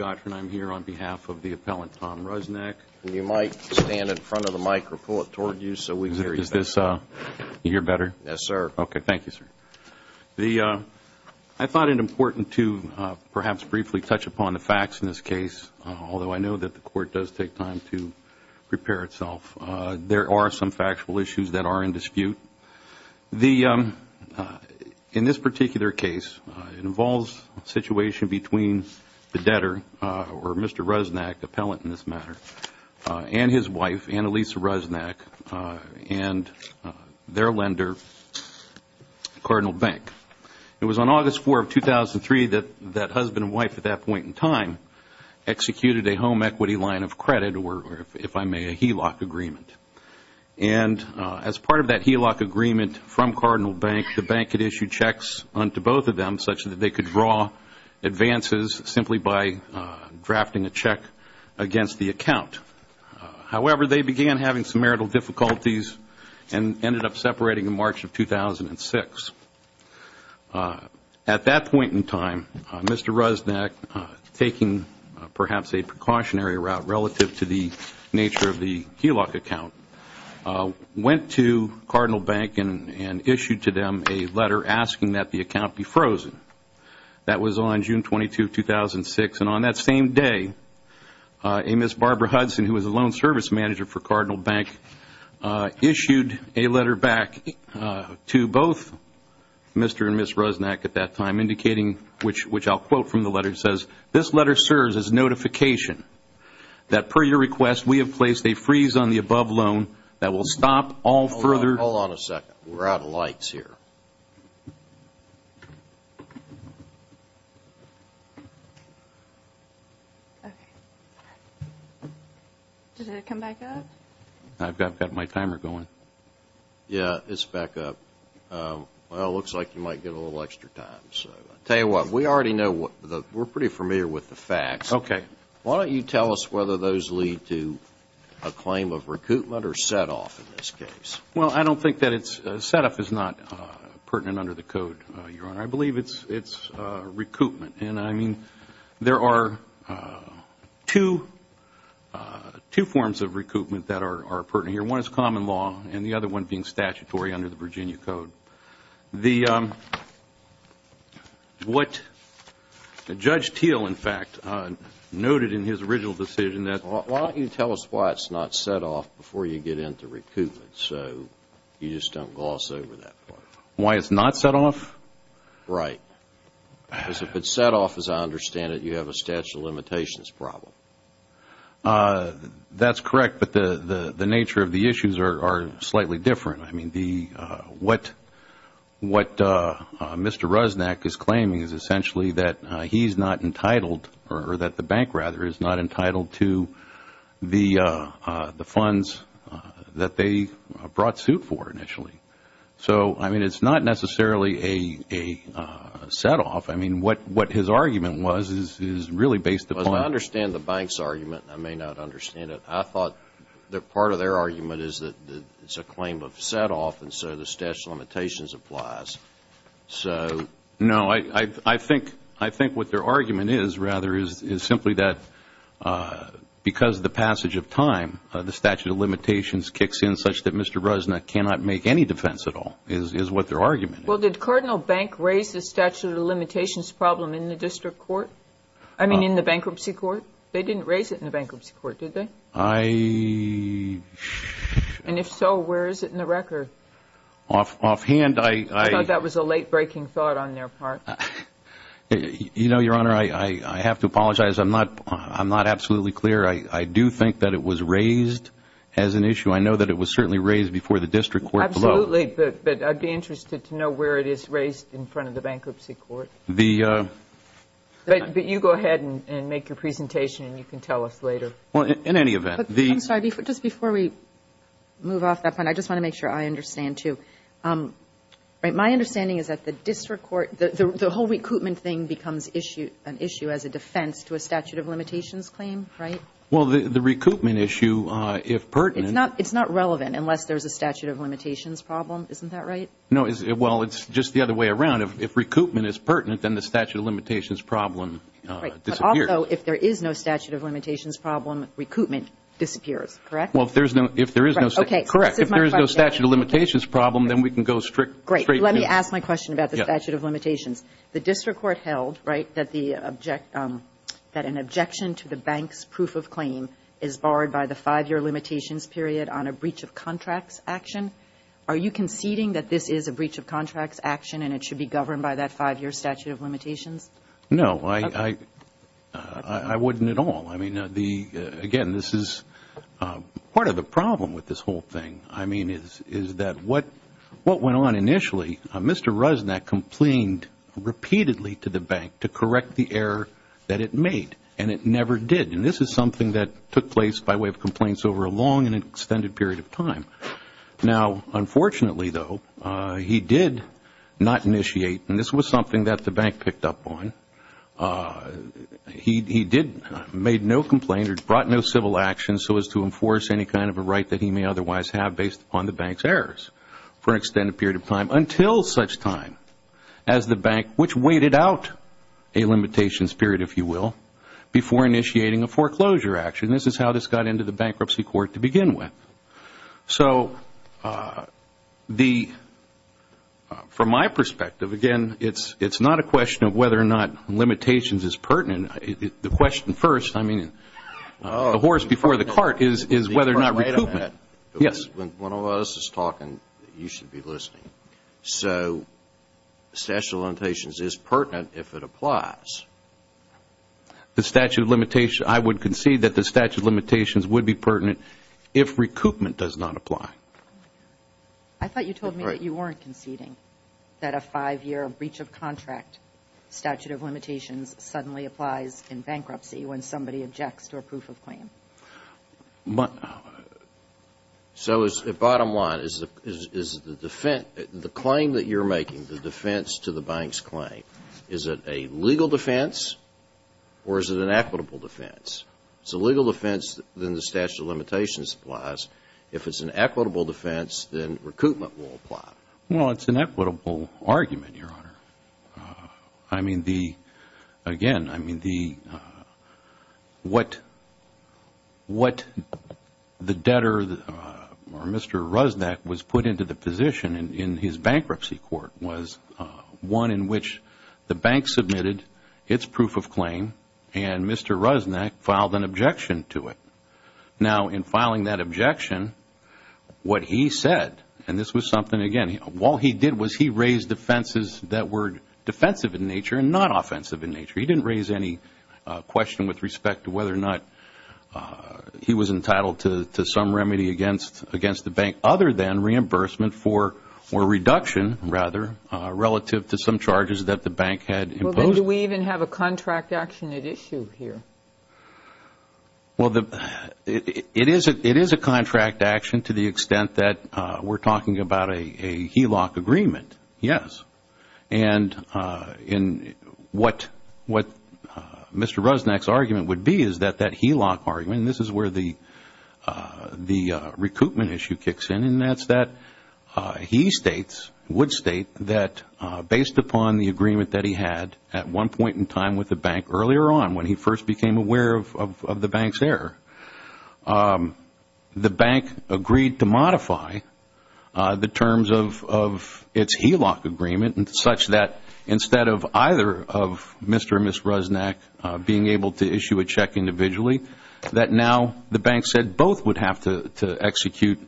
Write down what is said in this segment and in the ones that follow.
I'm here on behalf of the appellant Tom Rusnack. Yes, sir. Thank you, sir. I thought it important to perhaps briefly touch upon the facts in this case, although I know that the court does take time to prepare itself. There are some factual issues that are in dispute. In this particular case, it involves a situation between the debtor and the debtor. Or Mr. Rusnack, the appellant in this matter, and his wife, Annalisa Rusnack, and their lender, Cardinal Bank. It was on August 4, 2003, that husband and wife at that point in time executed a home equity line of credit, or if I may, a HELOC agreement. And as part of that HELOC agreement from Cardinal Bank, the bank had issued checks on to both of them, such that they could draw advances simply by drafting a check against the account. However, they began having some marital difficulties and ended up separating in March of 2006. At that point in time, Mr. Rusnack, taking perhaps a precautionary route relative to the nature of the HELOC account, went to Cardinal Bank and issued to them a letter asking that the account be frozen. That was on June 22, 2006. And on that same day, a Ms. Barbara Hudson, who was a loan service manager for Cardinal Bank, issued a letter back to both Mr. and Ms. Rusnack at that time, indicating, which I will quote from the letter, it says, this letter serves as a notification that, per your request, we have placed a freeze on the above loan that will stop all further... Hold on a second. We're out of lights here. Okay. Did it come back up? I've got my timer going. Yeah, it's back up. Well, it looks like you might get a little extra time. Tell you what, we already know, we're pretty familiar with the facts. Okay. Why don't you tell us whether those lead to a claim of recoupment or setoff in this case? Well, I don't think that it's, setoff is not pertinent under the Code, Your Honor. I believe it's recoupment. And I mean, there are two forms of recoupment that are pertinent here. One is common law and the other one being statutory under the Virginia Code. So what Judge Teel, in fact, noted in his original decision that... Why don't you tell us why it's not setoff before you get into recoupment so you just don't gloss over that part? Why it's not setoff? Right. Because if it's setoff, as I understand it, you have a statute of limitations problem. That's correct, but the nature of the issues are slightly different. I mean, what Mr. Rusnak is claiming is essentially that he's not entitled or that the bank, rather, is not entitled to the funds that they brought suit for initially. So, I mean, it's not necessarily a setoff. I mean, what his argument was is really based upon... As I understand the bank's argument, I may not understand it, I thought that part of their argument is that it's a claim of setoff and so the statute of limitations applies. So... No, I think what their argument is, rather, is simply that because of the passage of time, the statute of limitations kicks in such that Mr. Rusnak cannot make any defense at all is what their argument is. Well, did Cardinal Bank raise the statute of limitations problem in the district court? I mean, in the bankruptcy court? They didn't raise it in the bankruptcy court, did they? I... And if so, where is it in the record? Offhand, I... I thought that was a late-breaking thought on their part. You know, Your Honor, I have to apologize. I'm not absolutely clear. I do think that it was raised as an issue. I know that it was certainly raised before the district court. Absolutely, but I'd be interested to know where it is raised in front of the bankruptcy court. The... But you go ahead and make your presentation and you can tell us later. Well, in any event, the... I'm sorry, just before we move off that point, I just want to make sure I understand, too. My understanding is that the district court, the whole recoupment thing becomes an issue as a defense to a statute of limitations claim, right? Well, the recoupment issue, if pertinent... It's not relevant unless there's a statute of limitations problem. Isn't that right? No. Well, it's just the other way around. If recoupment is pertinent, then the statute of limitations problem disappears. Right. But also, if there is no statute of limitations problem, recoupment disappears, correct? Well, if there is no... Okay. Correct. If there is no statute of limitations problem, then we can go straight to... Great. Let me ask my question about the statute of limitations. The district court held, right, that the object... that an objection to the bank's proof of claim is barred by the five-year limitations period on a breach of contracts action. Are you conceding that this is a breach of contracts action and it should be governed by that five-year statute of limitations? No. I wouldn't at all. I mean, again, this is part of the problem with this whole thing. I mean, is that what went on initially, Mr. Rusnak complained repeatedly to the bank to correct the error that it made, and it never did. And this is something that took place by way of complaints over a long and extended period of time. Now, unfortunately, though, he did not initiate, and this was something that the bank picked up on, he did make no complaint or brought no civil action so as to enforce any kind of a right that he may otherwise have based upon the bank's errors for an extended period of time until such time as the bank, which waited out a limitations period, if you will, before initiating a foreclosure action. This is how this got into the bankruptcy court to begin with. So the, from my perspective, again, it's not a question of whether or not limitations is pertinent. The question first, I mean, the horse before the cart is whether or not recoupment. Yes. When one of us is talking, you should be listening. So the statute of limitations is pertinent if it applies. The statute of limitations, I would concede that the statute of limitations would be pertinent if recoupment does not apply. I thought you told me that you weren't conceding that a five-year breach of contract statute of limitations suddenly applies in bankruptcy when somebody objects to a proof of claim. So the bottom line is the claim that you're making, the defense to the bank's claim, is it a legal defense or is it an equitable defense? If it's a legal defense, then the statute of limitations applies. If it's an equitable defense, then recoupment will apply. Well, it's an equitable argument, Your Honor. I mean, again, I mean, what the debtor or Mr. Rusnak was put into the position in his bankruptcy court was one in which the bank submitted its proof of claim and Mr. Rusnak filed an objection to it. Now, in filing that objection, what he said, and this was something, again, what he did was he raised defenses that were defensive in nature and not offensive in nature. He didn't raise any question with respect to whether or not he was entitled to some remedy against the bank, other than reimbursement for a reduction, rather, relative to some charges that the bank had imposed. Well, then do we even have a contract action at issue here? Well, it is a contract action to the extent that we're talking about a HELOC agreement, yes. And what Mr. Rusnak's argument would be is that that HELOC argument, and this is where the recoupment issue kicks in, and that's that he states, would state, that based upon the agreement that he had at one point in time with the bank earlier on, when he first became aware of the bank's error, the bank agreed to modify the terms of its HELOC agreement such that instead of either of Mr. or Ms. Rusnak being able to issue a check individually, that now the bank said both would have to execute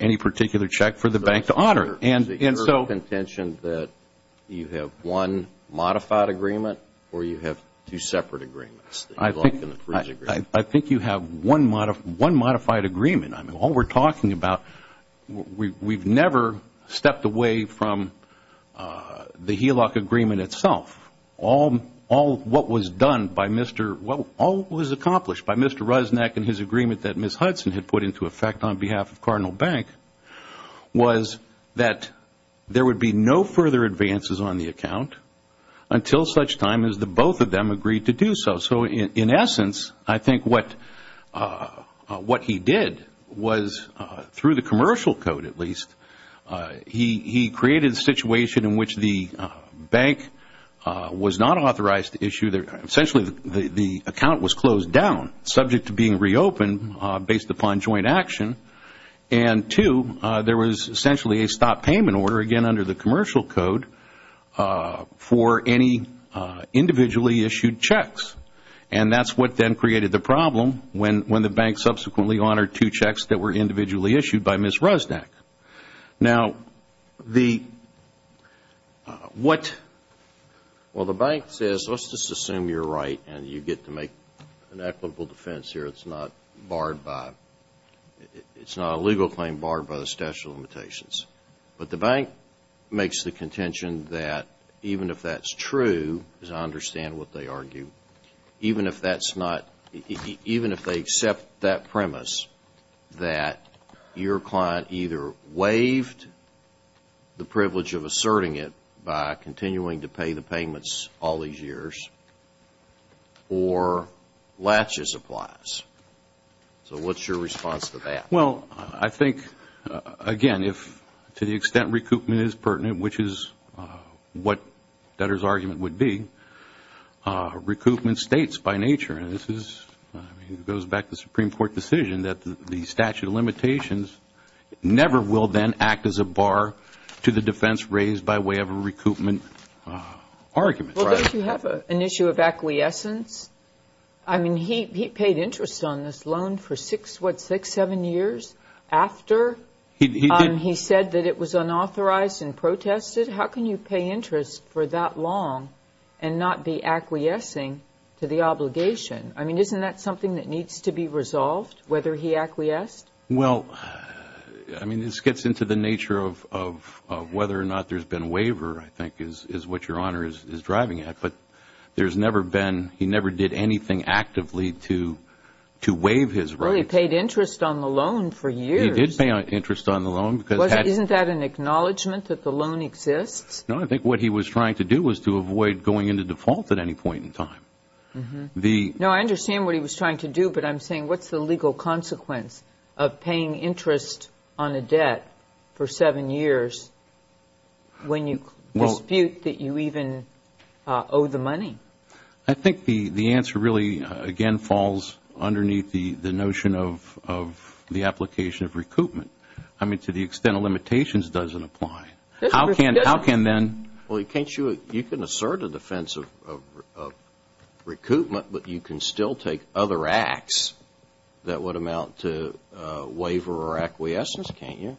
any particular check for the bank to honor. Is it your contention that you have one modified agreement or you have two separate agreements? I think you have one modified agreement. I mean, all we're talking about, we've never stepped away from the HELOC agreement itself. All what was accomplished by Mr. Rusnak and his agreement that Ms. Hudson had put into effect on behalf of Cardinal Bank was that there would be no further advances on the account until such time as the both of them agreed to do so. So in essence, I think what he did was, through the commercial code at least, he created a situation in which the bank was not authorized to issue, essentially the account was closed down, subject to being reopened based upon joint action, and two, there was essentially a stop payment order, again under the commercial code, for any individually issued checks. And that's what then created the problem when the bank subsequently honored two checks that were individually issued by Ms. Rusnak. Now, what the bank says, let's just assume you're right and you get to make an equitable defense here, it's not barred by, it's not a legal claim barred by the statute of limitations. But the bank makes the contention that even if that's true, as I understand what they argue, even if that's not, even if they accept that premise, that your client either waived the privilege of asserting it by continuing to pay the payments all these years or latches applies. So what's your response to that? Well, I think, again, if to the extent recoupment is pertinent, which is what Dutter's argument would be, recoupment states by nature, and this goes back to the Supreme Court decision, that the statute of limitations never will then act as a bar to the defense raised by way of a recoupment argument. Well, don't you have an issue of acquiescence? I mean, he paid interest on this loan for six, what, six, seven years after he said that it was unauthorized and protested. How can you pay interest for that long and not be acquiescing to the obligation? I mean, isn't that something that needs to be resolved, whether he acquiesced? Well, I mean, this gets into the nature of whether or not there's been a waiver, I think, is what Your Honor is driving at. But there's never been, he never did anything actively to waive his rights. Well, he paid interest on the loan for years. He did pay interest on the loan. Isn't that an acknowledgment that the loan exists? No, I think what he was trying to do was to avoid going into default at any point in time. No, I understand what he was trying to do, but I'm saying what's the legal consequence of paying interest on a debt for seven years when you dispute that you even owe the money? I think the answer really, again, falls underneath the notion of the application of recoupment. I mean, to the extent of limitations doesn't apply. How can then? Well, can't you, you can assert a defense of recoupment, but you can still take other acts that would amount to waiver or acquiescence, can't you?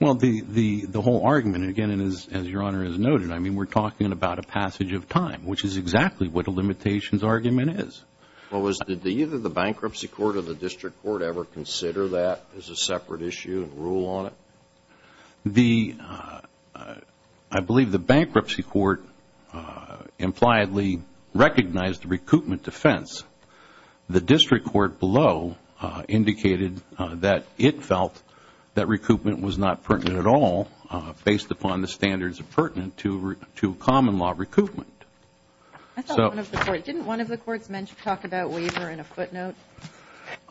Well, the whole argument, again, as Your Honor has noted, I mean, we're talking about a passage of time, which is exactly what a limitations argument is. Well, did either the bankruptcy court or the district court ever consider that as a separate issue and rule on it? I believe the bankruptcy court impliedly recognized the recoupment defense. The district court below indicated that it felt that recoupment was not pertinent at all based upon the standards pertinent to common law recoupment. Didn't one of the courts talk about waiver in a footnote?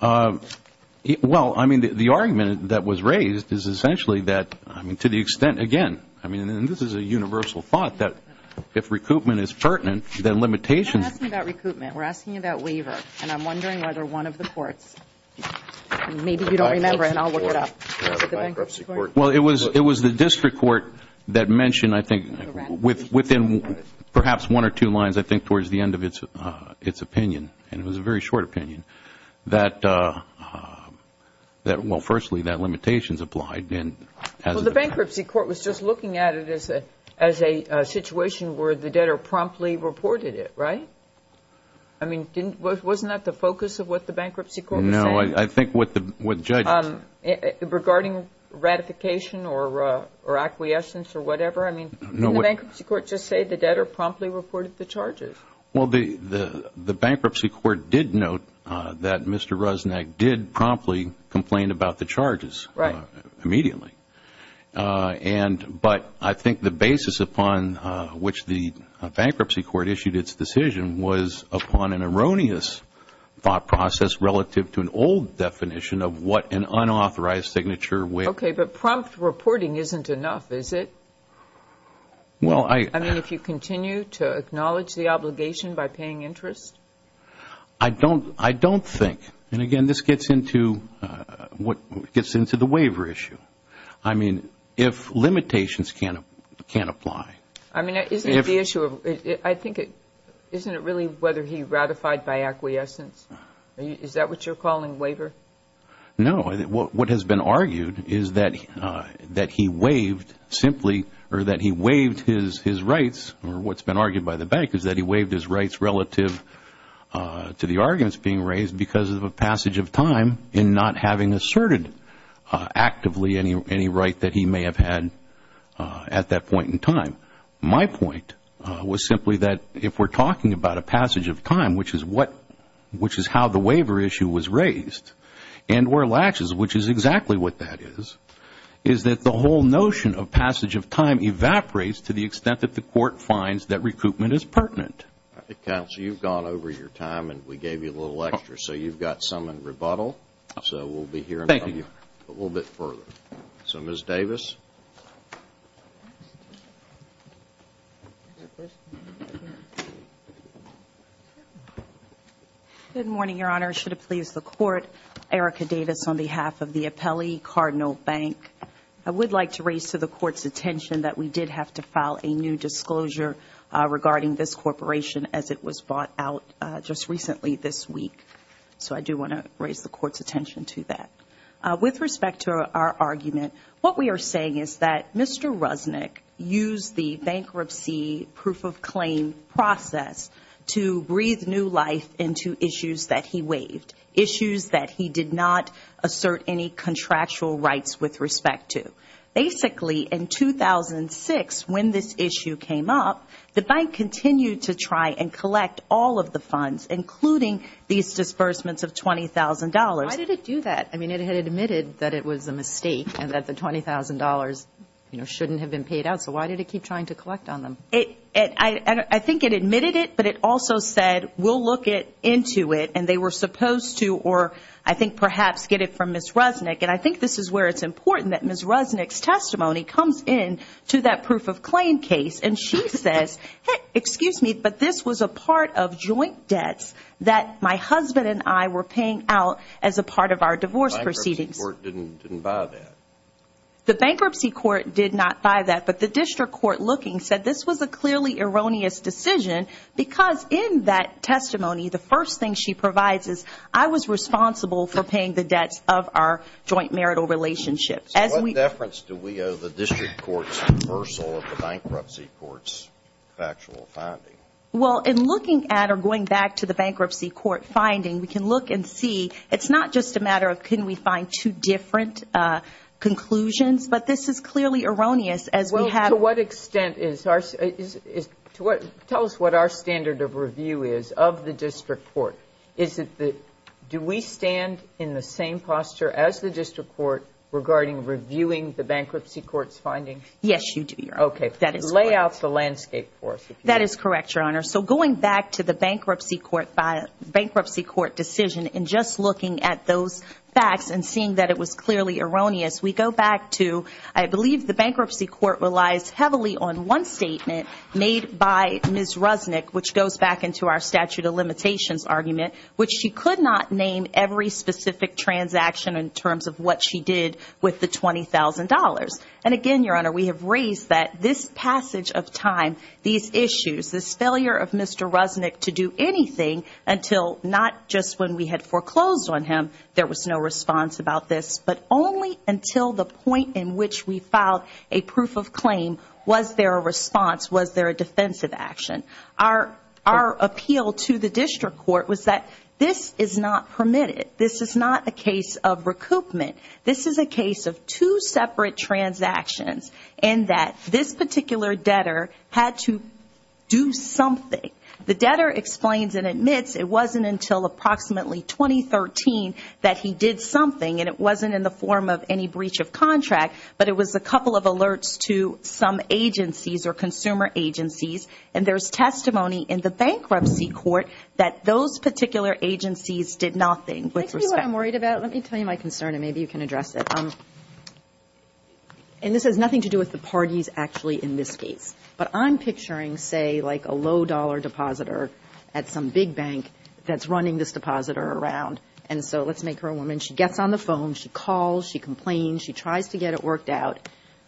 Well, I mean, the argument that was raised is essentially that, I mean, to the extent, again, I mean, and this is a universal thought that if recoupment is pertinent, then limitations. We're not asking about recoupment. We're asking about waiver. And I'm wondering whether one of the courts, maybe you don't remember, and I'll look it up. Well, it was the district court that mentioned, I think, within perhaps one or two lines, I think, towards the end of its opinion. And it was a very short opinion that, well, firstly, that limitations applied. Well, the bankruptcy court was just looking at it as a situation where the debtor promptly reported it, right? I mean, wasn't that the focus of what the bankruptcy court was saying? No, I think what the judge said. Regarding ratification or acquiescence or whatever? I mean, didn't the bankruptcy court just say the debtor promptly reported the charges? Well, the bankruptcy court did note that Mr. Ruznick did promptly complain about the charges. Right. Immediately. But I think the basis upon which the bankruptcy court issued its decision was upon an erroneous thought process relative to an old definition of what an unauthorized signature would be. Okay, but prompt reporting isn't enough, is it? I mean, if you continue to acknowledge the obligation by paying interest? I don't think. And, again, this gets into the waiver issue. I mean, if limitations can't apply. I mean, isn't it the issue of, I think, isn't it really whether he ratified by acquiescence? Is that what you're calling waiver? No, what has been argued is that he waived simply or that he waived his rights or what's been argued by the bank is that he waived his rights relative to the arguments being raised because of a passage of time in not having asserted actively any right that he may have had at that point in time. My point was simply that if we're talking about a passage of time, which is how the waiver issue was raised, and where latches, which is exactly what that is, is that the whole notion of passage of time evaporates to the extent that the court finds that recoupment is pertinent. Counsel, you've gone over your time and we gave you a little extra, so you've got some in rebuttal. So we'll be hearing from you a little bit further. So Ms. Davis. Good morning, Your Honor. Should it please the Court, Erica Davis on behalf of the Appellee Cardinal Bank. I would like to raise to the Court's attention that we did have to file a new disclosure regarding this corporation as it was brought out just recently this week. So I do want to raise the Court's attention to that. With respect to our argument, what we are saying is that Mr. Rusnick used the bankruptcy proof of claim process to breathe new life into issues that he waived, issues that he did not assert any contractual rights with respect to. Basically, in 2006, when this issue came up, the bank continued to try and collect all of the funds, including these disbursements of $20,000. Why did it do that? I mean, it had admitted that it was a mistake and that the $20,000 shouldn't have been paid out. So why did it keep trying to collect on them? I think it admitted it, but it also said, we'll look into it. And they were supposed to, or I think perhaps get it from Ms. Rusnick. And I think this is where it's important that Ms. Rusnick's testimony comes in to that proof of claim case. And she says, excuse me, but this was a part of joint debts that my husband and I were paying out as a part of our divorce proceedings. The bankruptcy court didn't buy that. The bankruptcy court did not buy that, but the district court looking said this was a clearly erroneous decision because in that testimony, the first thing she provides is, I was responsible for paying the debts of our joint marital relationship. What deference do we owe the district court's reversal of the bankruptcy court's factual finding? Well, in looking at or going back to the bankruptcy court finding, we can look and see it's not just a matter of can we find two different conclusions, but this is clearly erroneous as we have. Well, to what extent is our – tell us what our standard of review is of the district court. Do we stand in the same posture as the district court regarding reviewing the bankruptcy court's findings? Yes, you do, Your Honor. Okay. Lay out the landscape for us. That is correct, Your Honor. So going back to the bankruptcy court decision and just looking at those facts and seeing that it was clearly erroneous, we go back to, I believe the bankruptcy court relies heavily on one statement made by Ms. Rusnick, which goes back into our statute of limitations argument, which she could not name every specific transaction in terms of what she did with the $20,000. And again, Your Honor, we have raised that this passage of time, these issues, this failure of Mr. Rusnick to do anything until not just when we had foreclosed on him, there was no response about this, but only until the point in which we filed a proof of claim, was there a response, was there a defensive action? Our appeal to the district court was that this is not permitted. This is not a case of recoupment. This is a case of two separate transactions in that this particular debtor had to do something. The debtor explains and admits it wasn't until approximately 2013 that he did something, and it wasn't in the form of any breach of contract, but it was a couple of alerts to some agencies or consumer agencies, and there's testimony in the bankruptcy court that those particular agencies did nothing with respect. Let me tell you what I'm worried about. Let me tell you my concern, and maybe you can address it. And this has nothing to do with the parties, actually, in this case. But I'm picturing, say, like a low-dollar depositor at some big bank that's running this depositor around. And so let's make her a woman. She gets on the phone. She calls. She complains. She tries to get it worked out.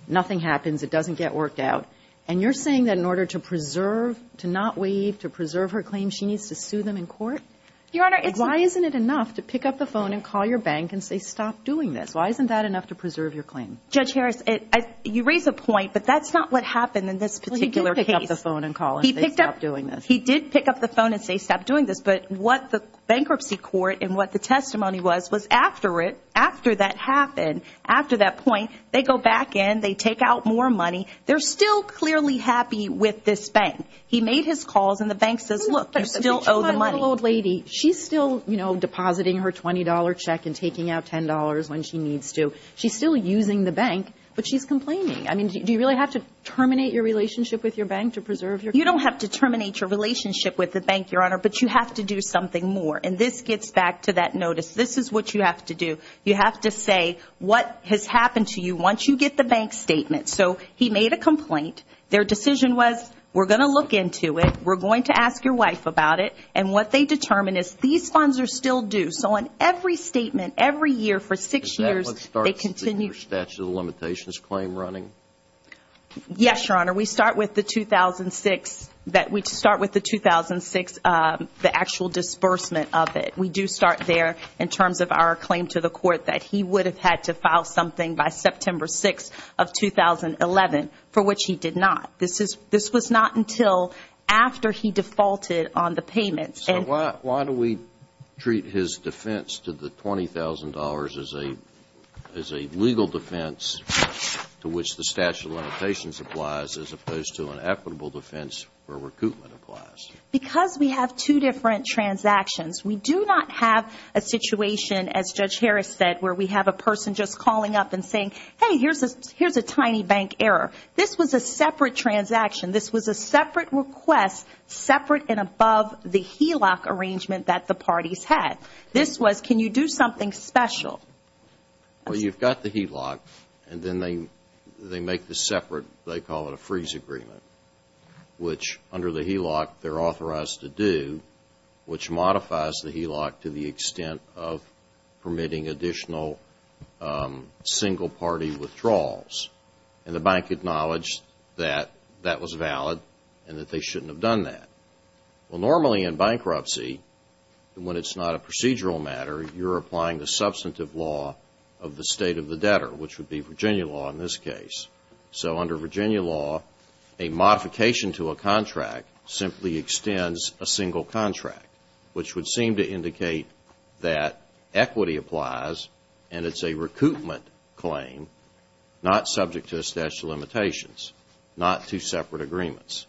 Nothing happens. It doesn't get worked out. And you're saying that in order to preserve, to not waive, to preserve her claim, she needs to sue them in court? Your Honor, it's a... Why isn't it enough to pick up the phone and call your bank and say, stop doing this? Why isn't that enough to preserve your claim? Judge Harris, you raise a point, but that's not what happened in this particular case. Well, he did pick up the phone and call and say, stop doing this. He did pick up the phone and say, stop doing this. But what the bankruptcy court and what the testimony was was after it, after that happened, after that point, they go back in, they take out more money. They're still clearly happy with this bank. He made his calls, and the bank says, look, you still owe the money. But you're trying to get an old lady. She's still, you know, depositing her $20 check and taking out $10 when she needs to. She's still using the bank, but she's complaining. I mean, do you really have to terminate your relationship with your bank to preserve your claim? You don't have to terminate your relationship with the bank, Your Honor, but you have to do something more. And this gets back to that notice. This is what you have to do. You have to say what has happened to you once you get the bank statement. So he made a complaint. Their decision was, we're going to look into it. We're going to ask your wife about it. And what they determined is these funds are still due. So on every statement, every year for six years, they continue. Is that what starts the statute of limitations claim running? Yes, Your Honor. We start with the 2006, the actual disbursement of it. We do start there in terms of our claim to the court that he would have had to file something by September 6th of 2011, for which he did not. This was not until after he defaulted on the payments. So why do we treat his defense to the $20,000 as a legal defense to which the statute of limitations applies as opposed to an equitable defense where recoupment applies? Because we have two different transactions. We do not have a situation, as Judge Harris said, where we have a person just calling up and saying, hey, here's a tiny bank error. This was a separate transaction. This was a separate request, separate and above the HELOC arrangement that the parties had. This was, can you do something special? Well, you've got the HELOC, and then they make the separate, they call it a freeze agreement, which under the HELOC they're authorized to do, which modifies the HELOC to the extent of permitting additional single-party withdrawals. And the bank acknowledged that that was valid and that they shouldn't have done that. Well, normally in bankruptcy, when it's not a procedural matter, you're applying the substantive law of the state of the debtor, which would be Virginia law in this case. So under Virginia law, a modification to a contract simply extends a single contract, which would seem to indicate that equity applies and it's a recoupment claim, not subject to a statute of limitations, not two separate agreements.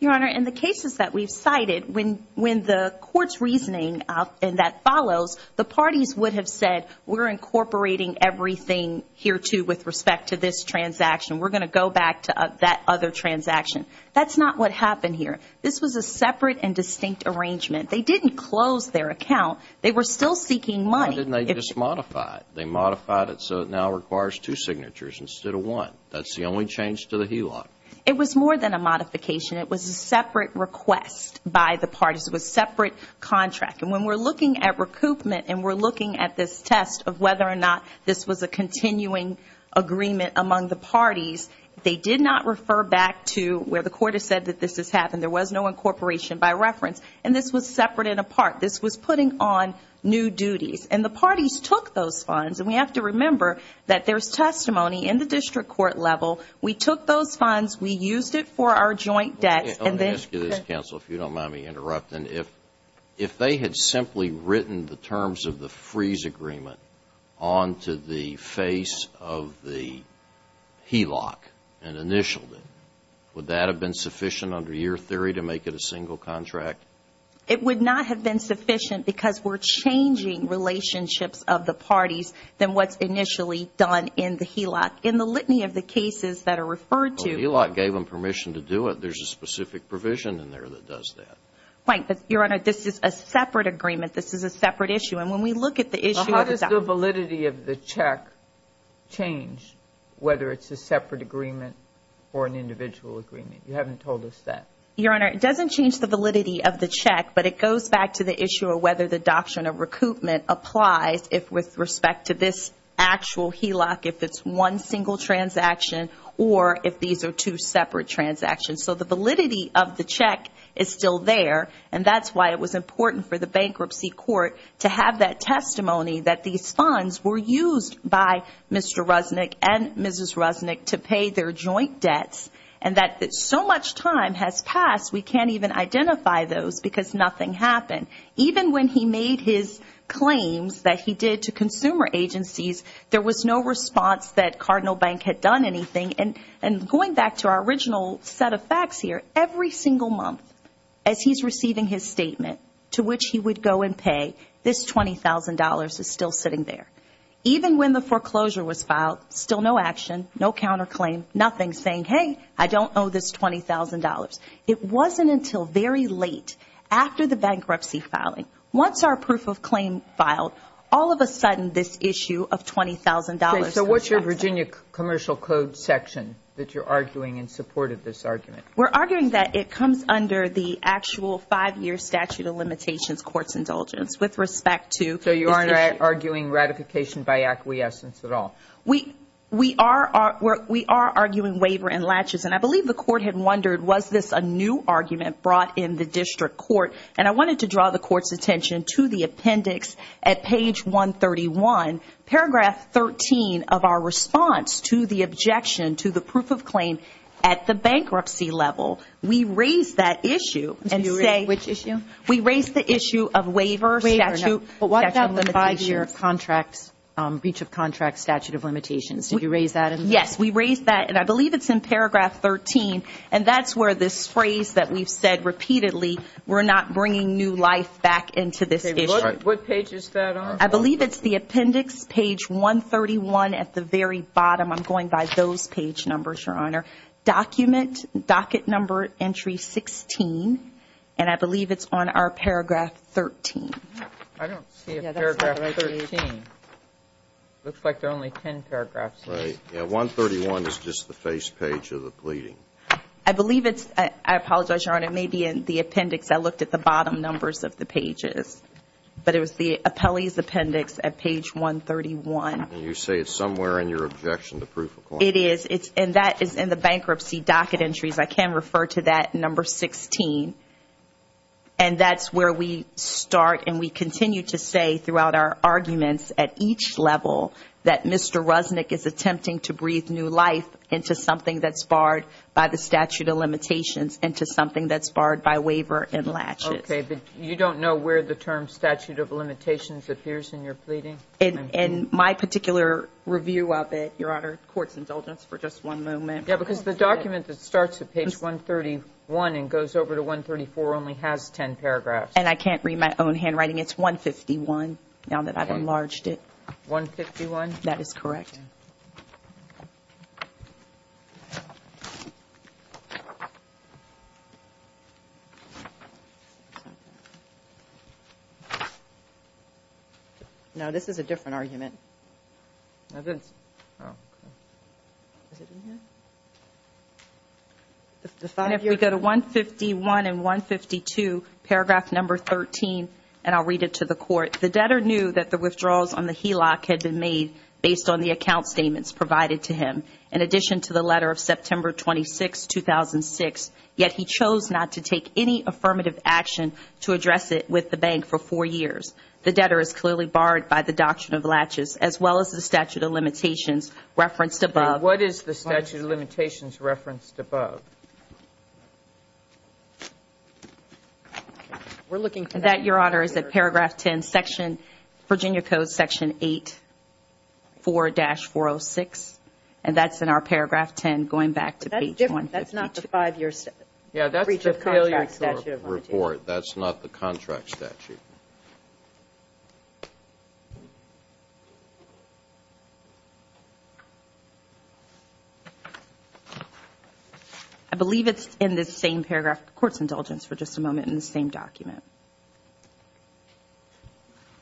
Your Honor, in the cases that we've cited, when the court's reasoning that follows, the parties would have said, we're incorporating everything here, too, with respect to this transaction. We're going to go back to that other transaction. That's not what happened here. This was a separate and distinct arrangement. They didn't close their account. They were still seeking money. Why didn't they just modify it? They modified it so it now requires two signatures instead of one. That's the only change to the HELOC. It was more than a modification. It was a separate request by the parties. It was a separate contract. And when we're looking at recoupment and we're looking at this test of whether or not this was a continuing agreement among the parties, they did not refer back to where the court has said that this has happened. There was no incorporation by reference. And this was separate and apart. This was putting on new duties. And the parties took those funds. And we have to remember that there's testimony in the district court level. We took those funds. We used it for our joint debts. Let me ask you this, counsel, if you don't mind me interrupting. And if they had simply written the terms of the freeze agreement onto the face of the HELOC and initialed it, would that have been sufficient under your theory to make it a single contract? It would not have been sufficient because we're changing relationships of the parties than what's initially done in the HELOC. In the litany of the cases that are referred to. The HELOC gave them permission to do it. There's a specific provision in there that does that. Right. Your Honor, this is a separate agreement. This is a separate issue. And when we look at the issue of the doctrine. How does the validity of the check change whether it's a separate agreement or an individual agreement? You haven't told us that. Your Honor, it doesn't change the validity of the check, but it goes back to the issue of whether the doctrine of recoupment applies with respect to this actual HELOC, if it's one single transaction or if these are two separate transactions. So the validity of the check is still there, and that's why it was important for the bankruptcy court to have that testimony that these funds were used by Mr. Rusnick and Mrs. Rusnick to pay their joint debts and that so much time has passed we can't even identify those because nothing happened. Even when he made his claims that he did to consumer agencies, there was no response that Cardinal Bank had done anything. And going back to our original set of facts here, every single month as he's receiving his statement to which he would go and pay, this $20,000 is still sitting there. Even when the foreclosure was filed, still no action, no counterclaim, nothing saying, hey, I don't owe this $20,000. It wasn't until very late after the bankruptcy filing. Once our proof of claim filed, all of a sudden this issue of $20,000. So what's your Virginia Commercial Code section that you're arguing in support of this argument? We're arguing that it comes under the actual five-year statute of limitations court's indulgence with respect to this issue. So you aren't arguing ratification by acquiescence at all? We are arguing waiver and latches, and I believe the court had wondered was this a new argument brought in the district court, and I wanted to draw the court's attention to the appendix at page 131, and in paragraph 13 of our response to the objection to the proof of claim at the bankruptcy level, we raised that issue. Which issue? We raised the issue of waiver statute. But what about the five-year contract, breach of contract statute of limitations? Did you raise that? Yes, we raised that, and I believe it's in paragraph 13, and that's where this phrase that we've said repeatedly, we're not bringing new life back into this issue. What page is that on? I believe it's the appendix, page 131 at the very bottom. I'm going by those page numbers, Your Honor. Document, docket number entry 16, and I believe it's on our paragraph 13. I don't see a paragraph 13. It looks like there are only ten paragraphs. Right. Yeah, 131 is just the face page of the pleading. I believe it's, I apologize, Your Honor, it may be in the appendix. I looked at the bottom numbers of the pages. But it was the appellee's appendix at page 131. And you say it's somewhere in your objection to proof of claim. It is, and that is in the bankruptcy docket entries. I can refer to that number 16, and that's where we start and we continue to say throughout our arguments at each level that Mr. Rusnick is attempting to breathe new life into something that's barred by the statute of limitations, into something that's barred by waiver and latches. Okay, but you don't know where the term statute of limitations appears in your pleading? In my particular review of it, Your Honor, court's indulgence for just one moment. Yeah, because the document that starts at page 131 and goes over to 134 only has ten paragraphs. And I can't read my own handwriting. It's 151 now that I've enlarged it. 151? That is correct. No, this is a different argument. Oh, good. Oh, okay. Is it in here? If we go to 151 and 152, paragraph number 13, and I'll read it to the court. The debtor knew that the withdrawals on the HELOC had been made based on the account statements provided to him, in addition to the letter of September 26, 2006, yet he chose not to take any affirmative action to address it with the bank for four years. The debtor is clearly barred by the doctrine of latches, as well as the statute of limitations referenced above. What is the statute of limitations referenced above? We're looking for that. That, Your Honor, is at paragraph 10, Virginia Code section 84-406, and that's in our paragraph 10 going back to page 152. That's not the five-year breach of contract statute of limitations. In court, that's not the contract statute. I believe it's in this same paragraph, court's indulgence for just a moment, in the same document.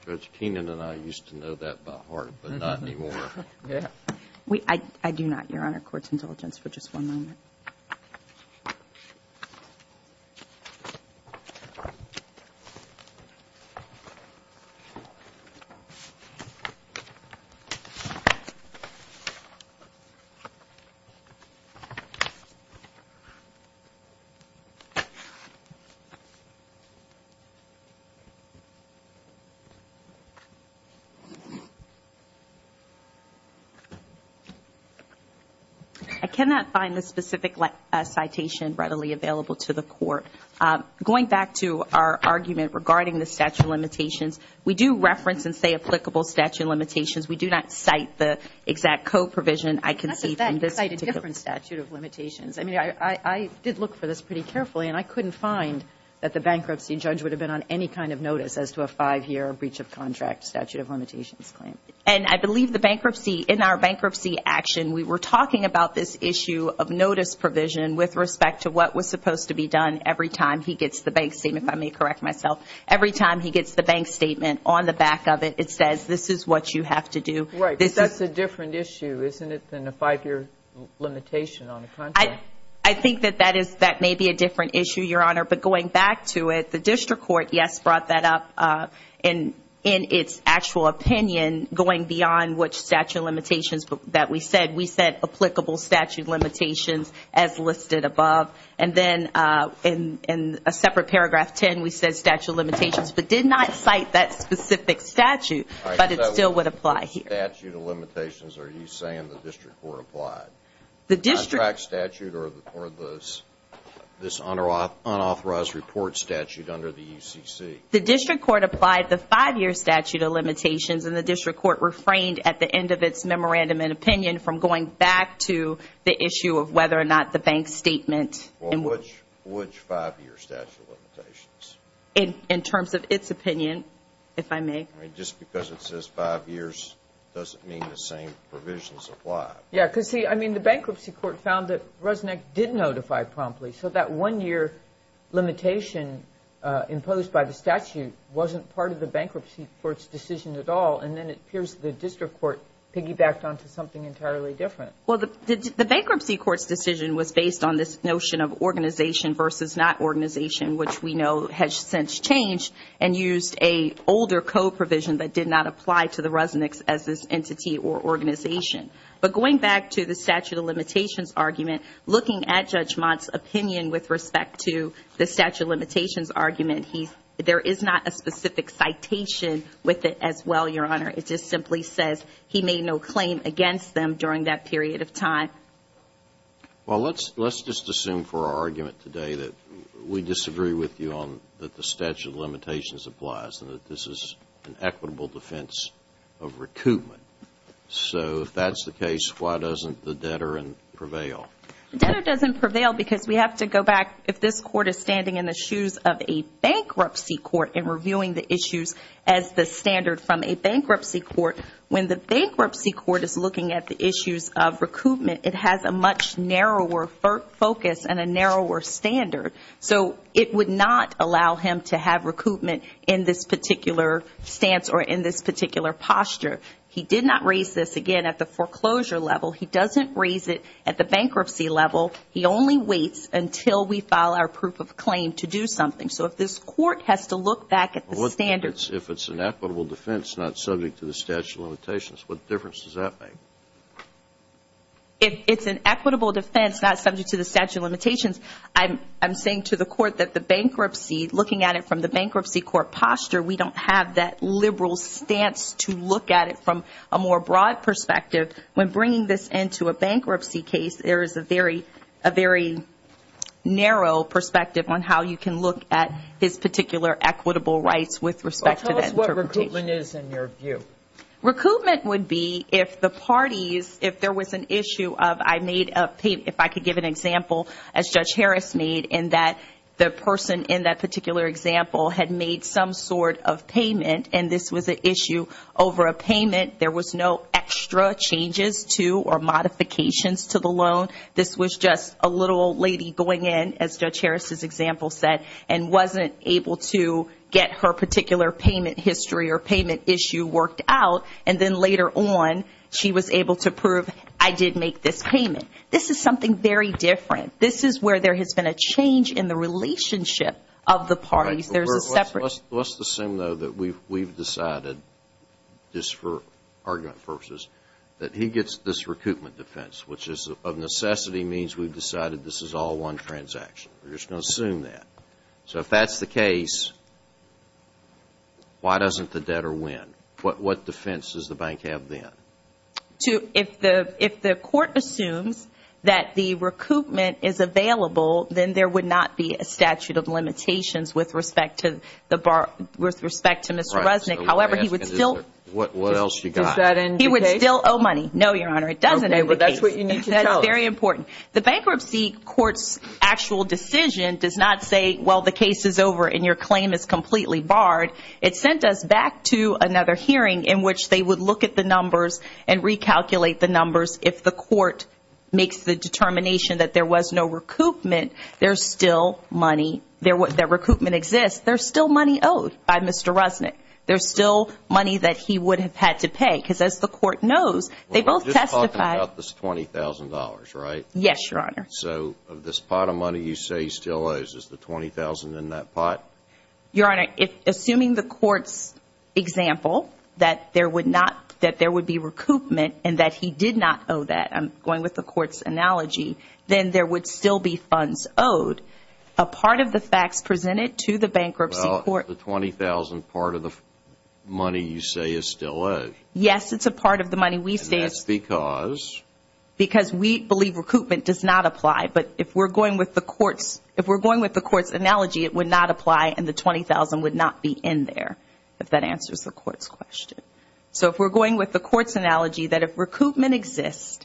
Judge Keenan and I used to know that by heart, but not anymore. I do not, Your Honor, court's indulgence for just one moment. I cannot find the specific citation readily available to the court. Going back to our argument regarding the statute of limitations, we do reference and say applicable statute of limitations. We do not cite the exact co-provision I can see from this particular. That's a different statute of limitations. I mean, I did look for this pretty carefully, and I couldn't find that the bankruptcy judge would have been on any kind of notice as to a five-year breach of contract statute of limitations claim. And I believe the bankruptcy, in our bankruptcy action, we were talking about this issue of notice provision with respect to what was supposed to be done every time he gets the bank statement, if I may correct myself. Every time he gets the bank statement on the back of it, it says, this is what you have to do. Right, but that's a different issue, isn't it, than a five-year limitation on the contract? I think that that may be a different issue, Your Honor, but going back to it, the district court, yes, brought that up in its actual opinion, going beyond which statute of limitations that we said. We said applicable statute of limitations as listed above. And then in a separate paragraph 10, we said statute of limitations, but did not cite that specific statute, but it still would apply here. All right, so what statute of limitations are you saying the district court applied? The contract statute or this unauthorized report statute under the UCC? The district court applied the five-year statute of limitations, and the district court refrained at the end of its memorandum and opinion from going back to the issue of whether or not the bank statement. Well, which five-year statute of limitations? In terms of its opinion, if I may. Just because it says five years doesn't mean the same provisions apply. Yes, because, see, I mean, the bankruptcy court found that Resnick did notify promptly, so that one-year limitation imposed by the statute wasn't part of the bankruptcy court's decision at all, and then it appears the district court piggybacked onto something entirely different. Well, the bankruptcy court's decision was based on this notion of organization versus not organization, which we know has since changed and used an older co-provision that did not apply to the Resnicks as this entity or organization. But going back to the statute of limitations argument, looking at Judge Mott's opinion with respect to the statute of limitations argument, there is not a specific citation with it as well, Your Honor. It just simply says he made no claim against them during that period of time. Well, let's just assume for our argument today that we disagree with you on that the statute of limitations applies and that this is an equitable defense of recoupment. So if that's the case, why doesn't the debtor prevail? The debtor doesn't prevail because we have to go back. If this court is standing in the shoes of a bankruptcy court and reviewing the issues as the standard from a bankruptcy court, when the bankruptcy court is looking at the issues of recoupment, it has a much narrower focus and a narrower standard. So it would not allow him to have recoupment in this particular stance or in this particular posture. He did not raise this, again, at the foreclosure level. He doesn't raise it at the bankruptcy level. He only waits until we file our proof of claim to do something. So if this court has to look back at the standards. If it's an equitable defense not subject to the statute of limitations, what difference does that make? If it's an equitable defense not subject to the statute of limitations, I'm saying to the court that the bankruptcy, looking at it from the bankruptcy court posture, we don't have that liberal stance to look at it from a more broad perspective. When bringing this into a bankruptcy case, there is a very narrow perspective on how you can look at his particular equitable rights with respect to that interpretation. Well, tell us what recoupment is in your view. Recoupment would be if the parties, if there was an issue of I made a, if I could give an example, as Judge Harris made, in that the person in that particular example had made some sort of payment and this was an issue over a payment. There was no extra changes to or modifications to the loan. This was just a little old lady going in, as Judge Harris' example said, and wasn't able to get her particular payment history or payment issue worked out, and then later on she was able to prove I did make this payment. This is something very different. This is where there has been a change in the relationship of the parties. There's a separate. Let's assume, though, that we've decided, just for argument purposes, that he gets this recoupment defense, which of necessity means we've decided this is all one transaction. We're just going to assume that. So if that's the case, why doesn't the debtor win? What defense does the bank have then? If the court assumes that the recoupment is available, then there would not be a statute of limitations with respect to Mr. Resnick. However, he would still owe money. No, Your Honor, it doesn't end the case. That's very important. The bankruptcy court's actual decision does not say, well, the case is over and your claim is completely barred. It sent us back to another hearing in which they would look at the numbers and recalculate the numbers. If the court makes the determination that there was no recoupment, there's still money. The recoupment exists. There's still money owed by Mr. Resnick. There's still money that he would have had to pay because, as the court knows, they both testified. We're just talking about this $20,000, right? Yes, Your Honor. Your Honor, assuming the court's example, that there would be recoupment and that he did not owe that, I'm going with the court's analogy, then there would still be funds owed. A part of the facts presented to the bankruptcy court. Well, the $20,000 part of the money you say is still owed. Yes, it's a part of the money we say. And that's because? Because we believe recoupment does not apply. But if we're going with the court's analogy, it would not apply and the $20,000 would not be in there, if that answers the court's question. So if we're going with the court's analogy, that if recoupment exists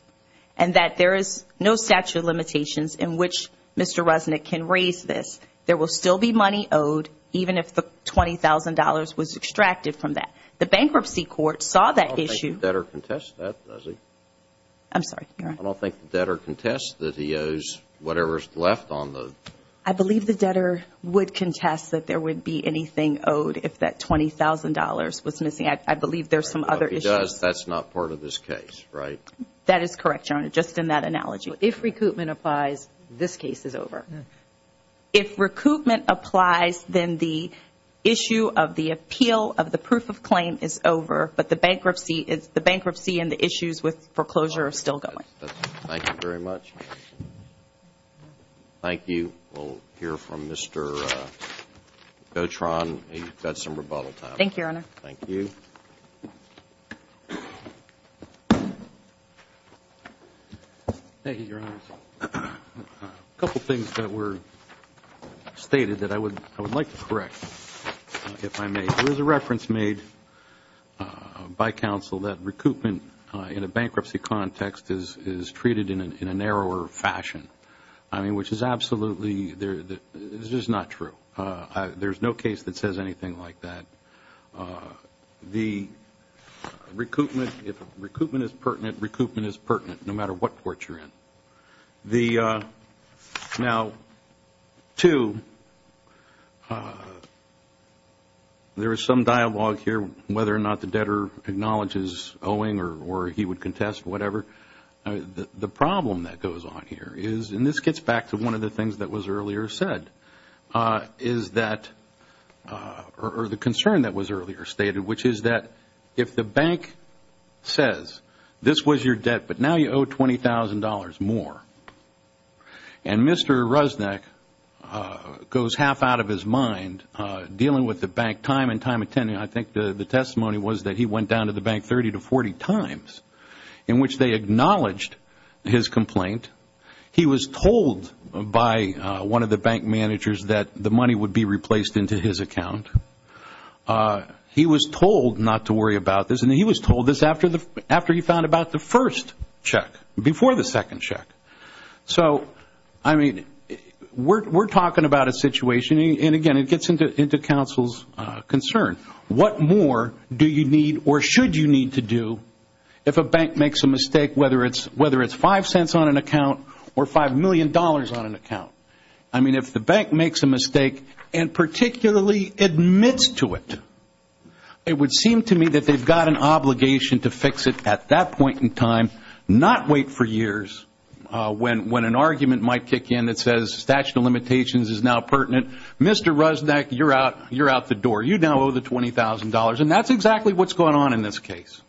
and that there is no statute of limitations in which Mr. Resnick can raise this, there will still be money owed even if the $20,000 was extracted from that. The bankruptcy court saw that issue. I don't think the debtor contests that, does he? I'm sorry, Your Honor. I don't think the debtor contests that he owes whatever's left on the? I believe the debtor would contest that there would be anything owed if that $20,000 was missing. I believe there's some other issues. If he does, that's not part of this case, right? That is correct, Your Honor, just in that analogy. If recoupment applies, this case is over. If recoupment applies, then the issue of the appeal of the proof of claim is over, but the bankruptcy and the issues with foreclosure are still going. Thank you very much. Thank you. We'll hear from Mr. Gautron. You've got some rebuttal time. Thank you, Your Honor. Thank you. Thank you, Your Honor. A couple things that were stated that I would like to correct, if I may. There's a reference made by counsel that recoupment in a bankruptcy context is treated in a narrower fashion, which is absolutely not true. There's no case that says anything like that. The recoupment, if recoupment is pertinent, recoupment is pertinent, no matter what court you're in. Now, two, there is some dialogue here whether or not the debtor acknowledges owing or he would contest, whatever. The problem that goes on here is, and this gets back to one of the things that was earlier said, or the concern that was earlier stated, which is that if the bank says this was your debt, but now you owe $20,000 more, and Mr. Rusneck goes half out of his mind dealing with the bank time and time again, I think the testimony was that he went down to the bank 30 to 40 times, in which they acknowledged his complaint. He was told by one of the bank managers that the money would be replaced into his account. He was told not to worry about this, and he was told this after he found out about the first check, before the second check. So, I mean, we're talking about a situation, and again, it gets into counsel's concern. What more do you need or should you need to do if a bank makes a mistake, whether it's five cents on an account or $5 million on an account? I mean, if the bank makes a mistake and particularly admits to it, it would seem to me that they've got an obligation to fix it at that point in time, not wait for years when an argument might kick in that says statute of limitations is now pertinent. Mr. Rusneck, you're out the door. You now owe the $20,000, and that's exactly what's going on in this case.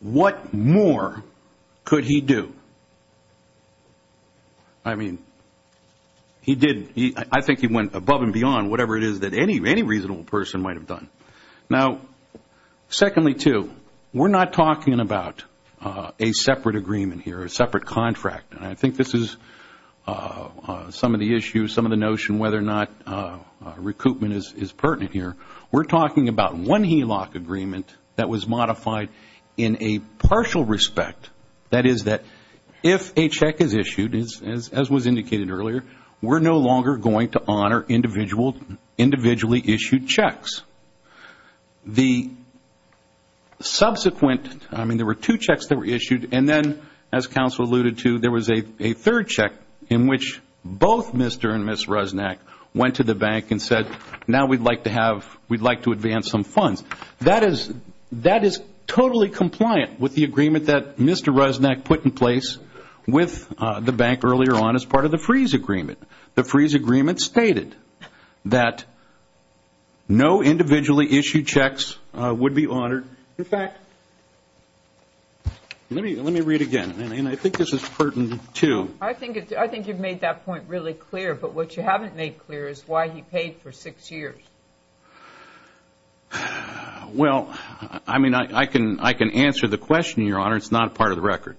What more could he do? I mean, I think he went above and beyond whatever it is that any reasonable person might have done. Now, secondly, too, we're not talking about a separate agreement here, a separate contract, and I think this is some of the issues, some of the notion whether or not recoupment is pertinent here. We're talking about one HELOC agreement that was modified in a partial respect, that is that if a check is issued, as was indicated earlier, we're no longer going to honor individually issued checks. The subsequent, I mean, there were two checks that were issued, and then, as counsel alluded to, there was a third check in which both Mr. and Ms. Rusneck went to the bank and said, now we'd like to advance some funds. That is totally compliant with the agreement that Mr. Rusneck put in place with the bank earlier on as part of the freeze agreement. The freeze agreement stated that no individually issued checks would be honored. In fact, let me read again, and I think this is pertinent, too. I think you've made that point really clear, but what you haven't made clear is why he paid for six years. Well, I mean, I can answer the question, Your Honor. It's not part of the record.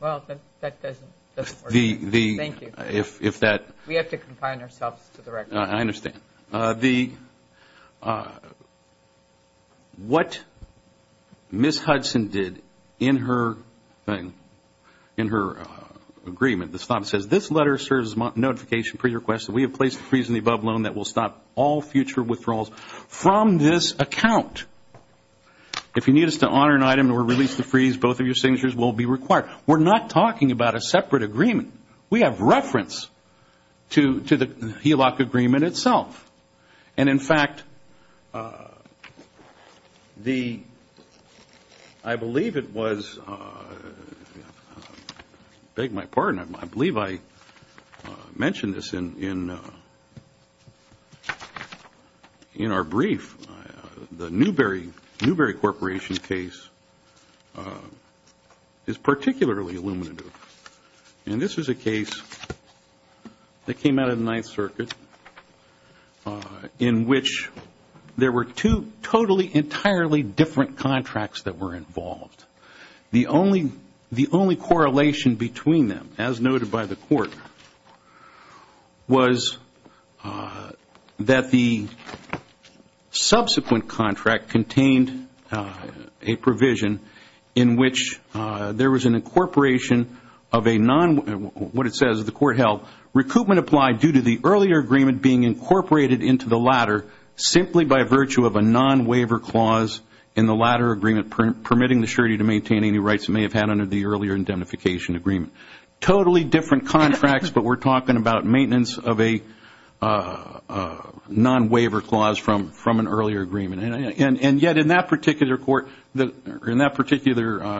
Well, that doesn't work. Thank you. We have to confine ourselves to the record. I understand. What Ms. Hudson did in her agreement, the stop says, this letter serves as a notification pre-request that we have placed a freeze in the above loan that will stop all future withdrawals from this account. If you need us to honor an item or release the freeze, both of your signatures will be required. We're not talking about a separate agreement. We have reference to the HELOC agreement itself. And in fact, I believe it was, beg my pardon, I believe I mentioned this in our brief, the Newberry Corporation case is particularly illuminative. And this is a case that came out of the Ninth Circuit in which there were two totally, entirely different contracts that were involved. The only correlation between them, as noted by the Court, was that the subsequent contract contained a provision in which there was an incorporation of a non- what it says, the Court held, recoupment applied due to the earlier agreement being incorporated into the latter simply by virtue of a non-waiver clause in the latter agreement permitting the surety to maintain any rights it may have had under the earlier indemnification agreement. Totally different contracts, but we're talking about maintenance of a non-waiver clause from an earlier agreement. And yet in that particular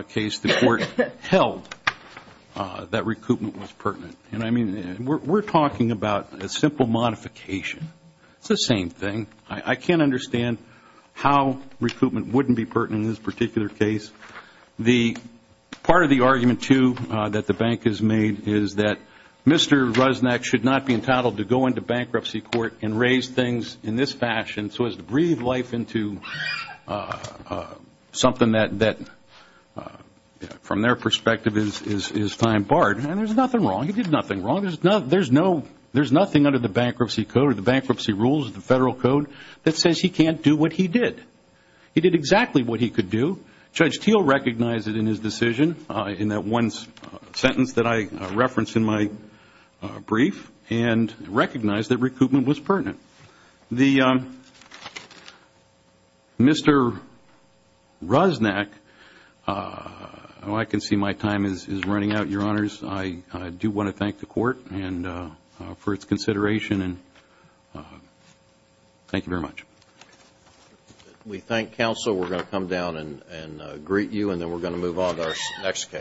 case, the Court held that recoupment was pertinent. And I mean, we're talking about a simple modification. It's the same thing. I can't understand how recoupment wouldn't be pertinent in this particular case. The part of the argument, too, that the bank has made is that Mr. Rusnak should not be entitled to go into bankruptcy court and raise things in this fashion so as to breathe life into something that, from their perspective, is fine barred. And there's nothing wrong. He did nothing wrong. There's nothing under the bankruptcy code or the bankruptcy rules of the Federal Code that says he can't do what he did. He did exactly what he could do. Judge Teel recognized it in his decision in that one sentence that I referenced in my brief and recognized that recoupment was pertinent. Mr. Rusnak, I can see my time is running out, Your Honors. I do want to thank the Court for its consideration. And thank you very much. We thank counsel. We're going to come down and greet you, and then we're going to move on to our next case.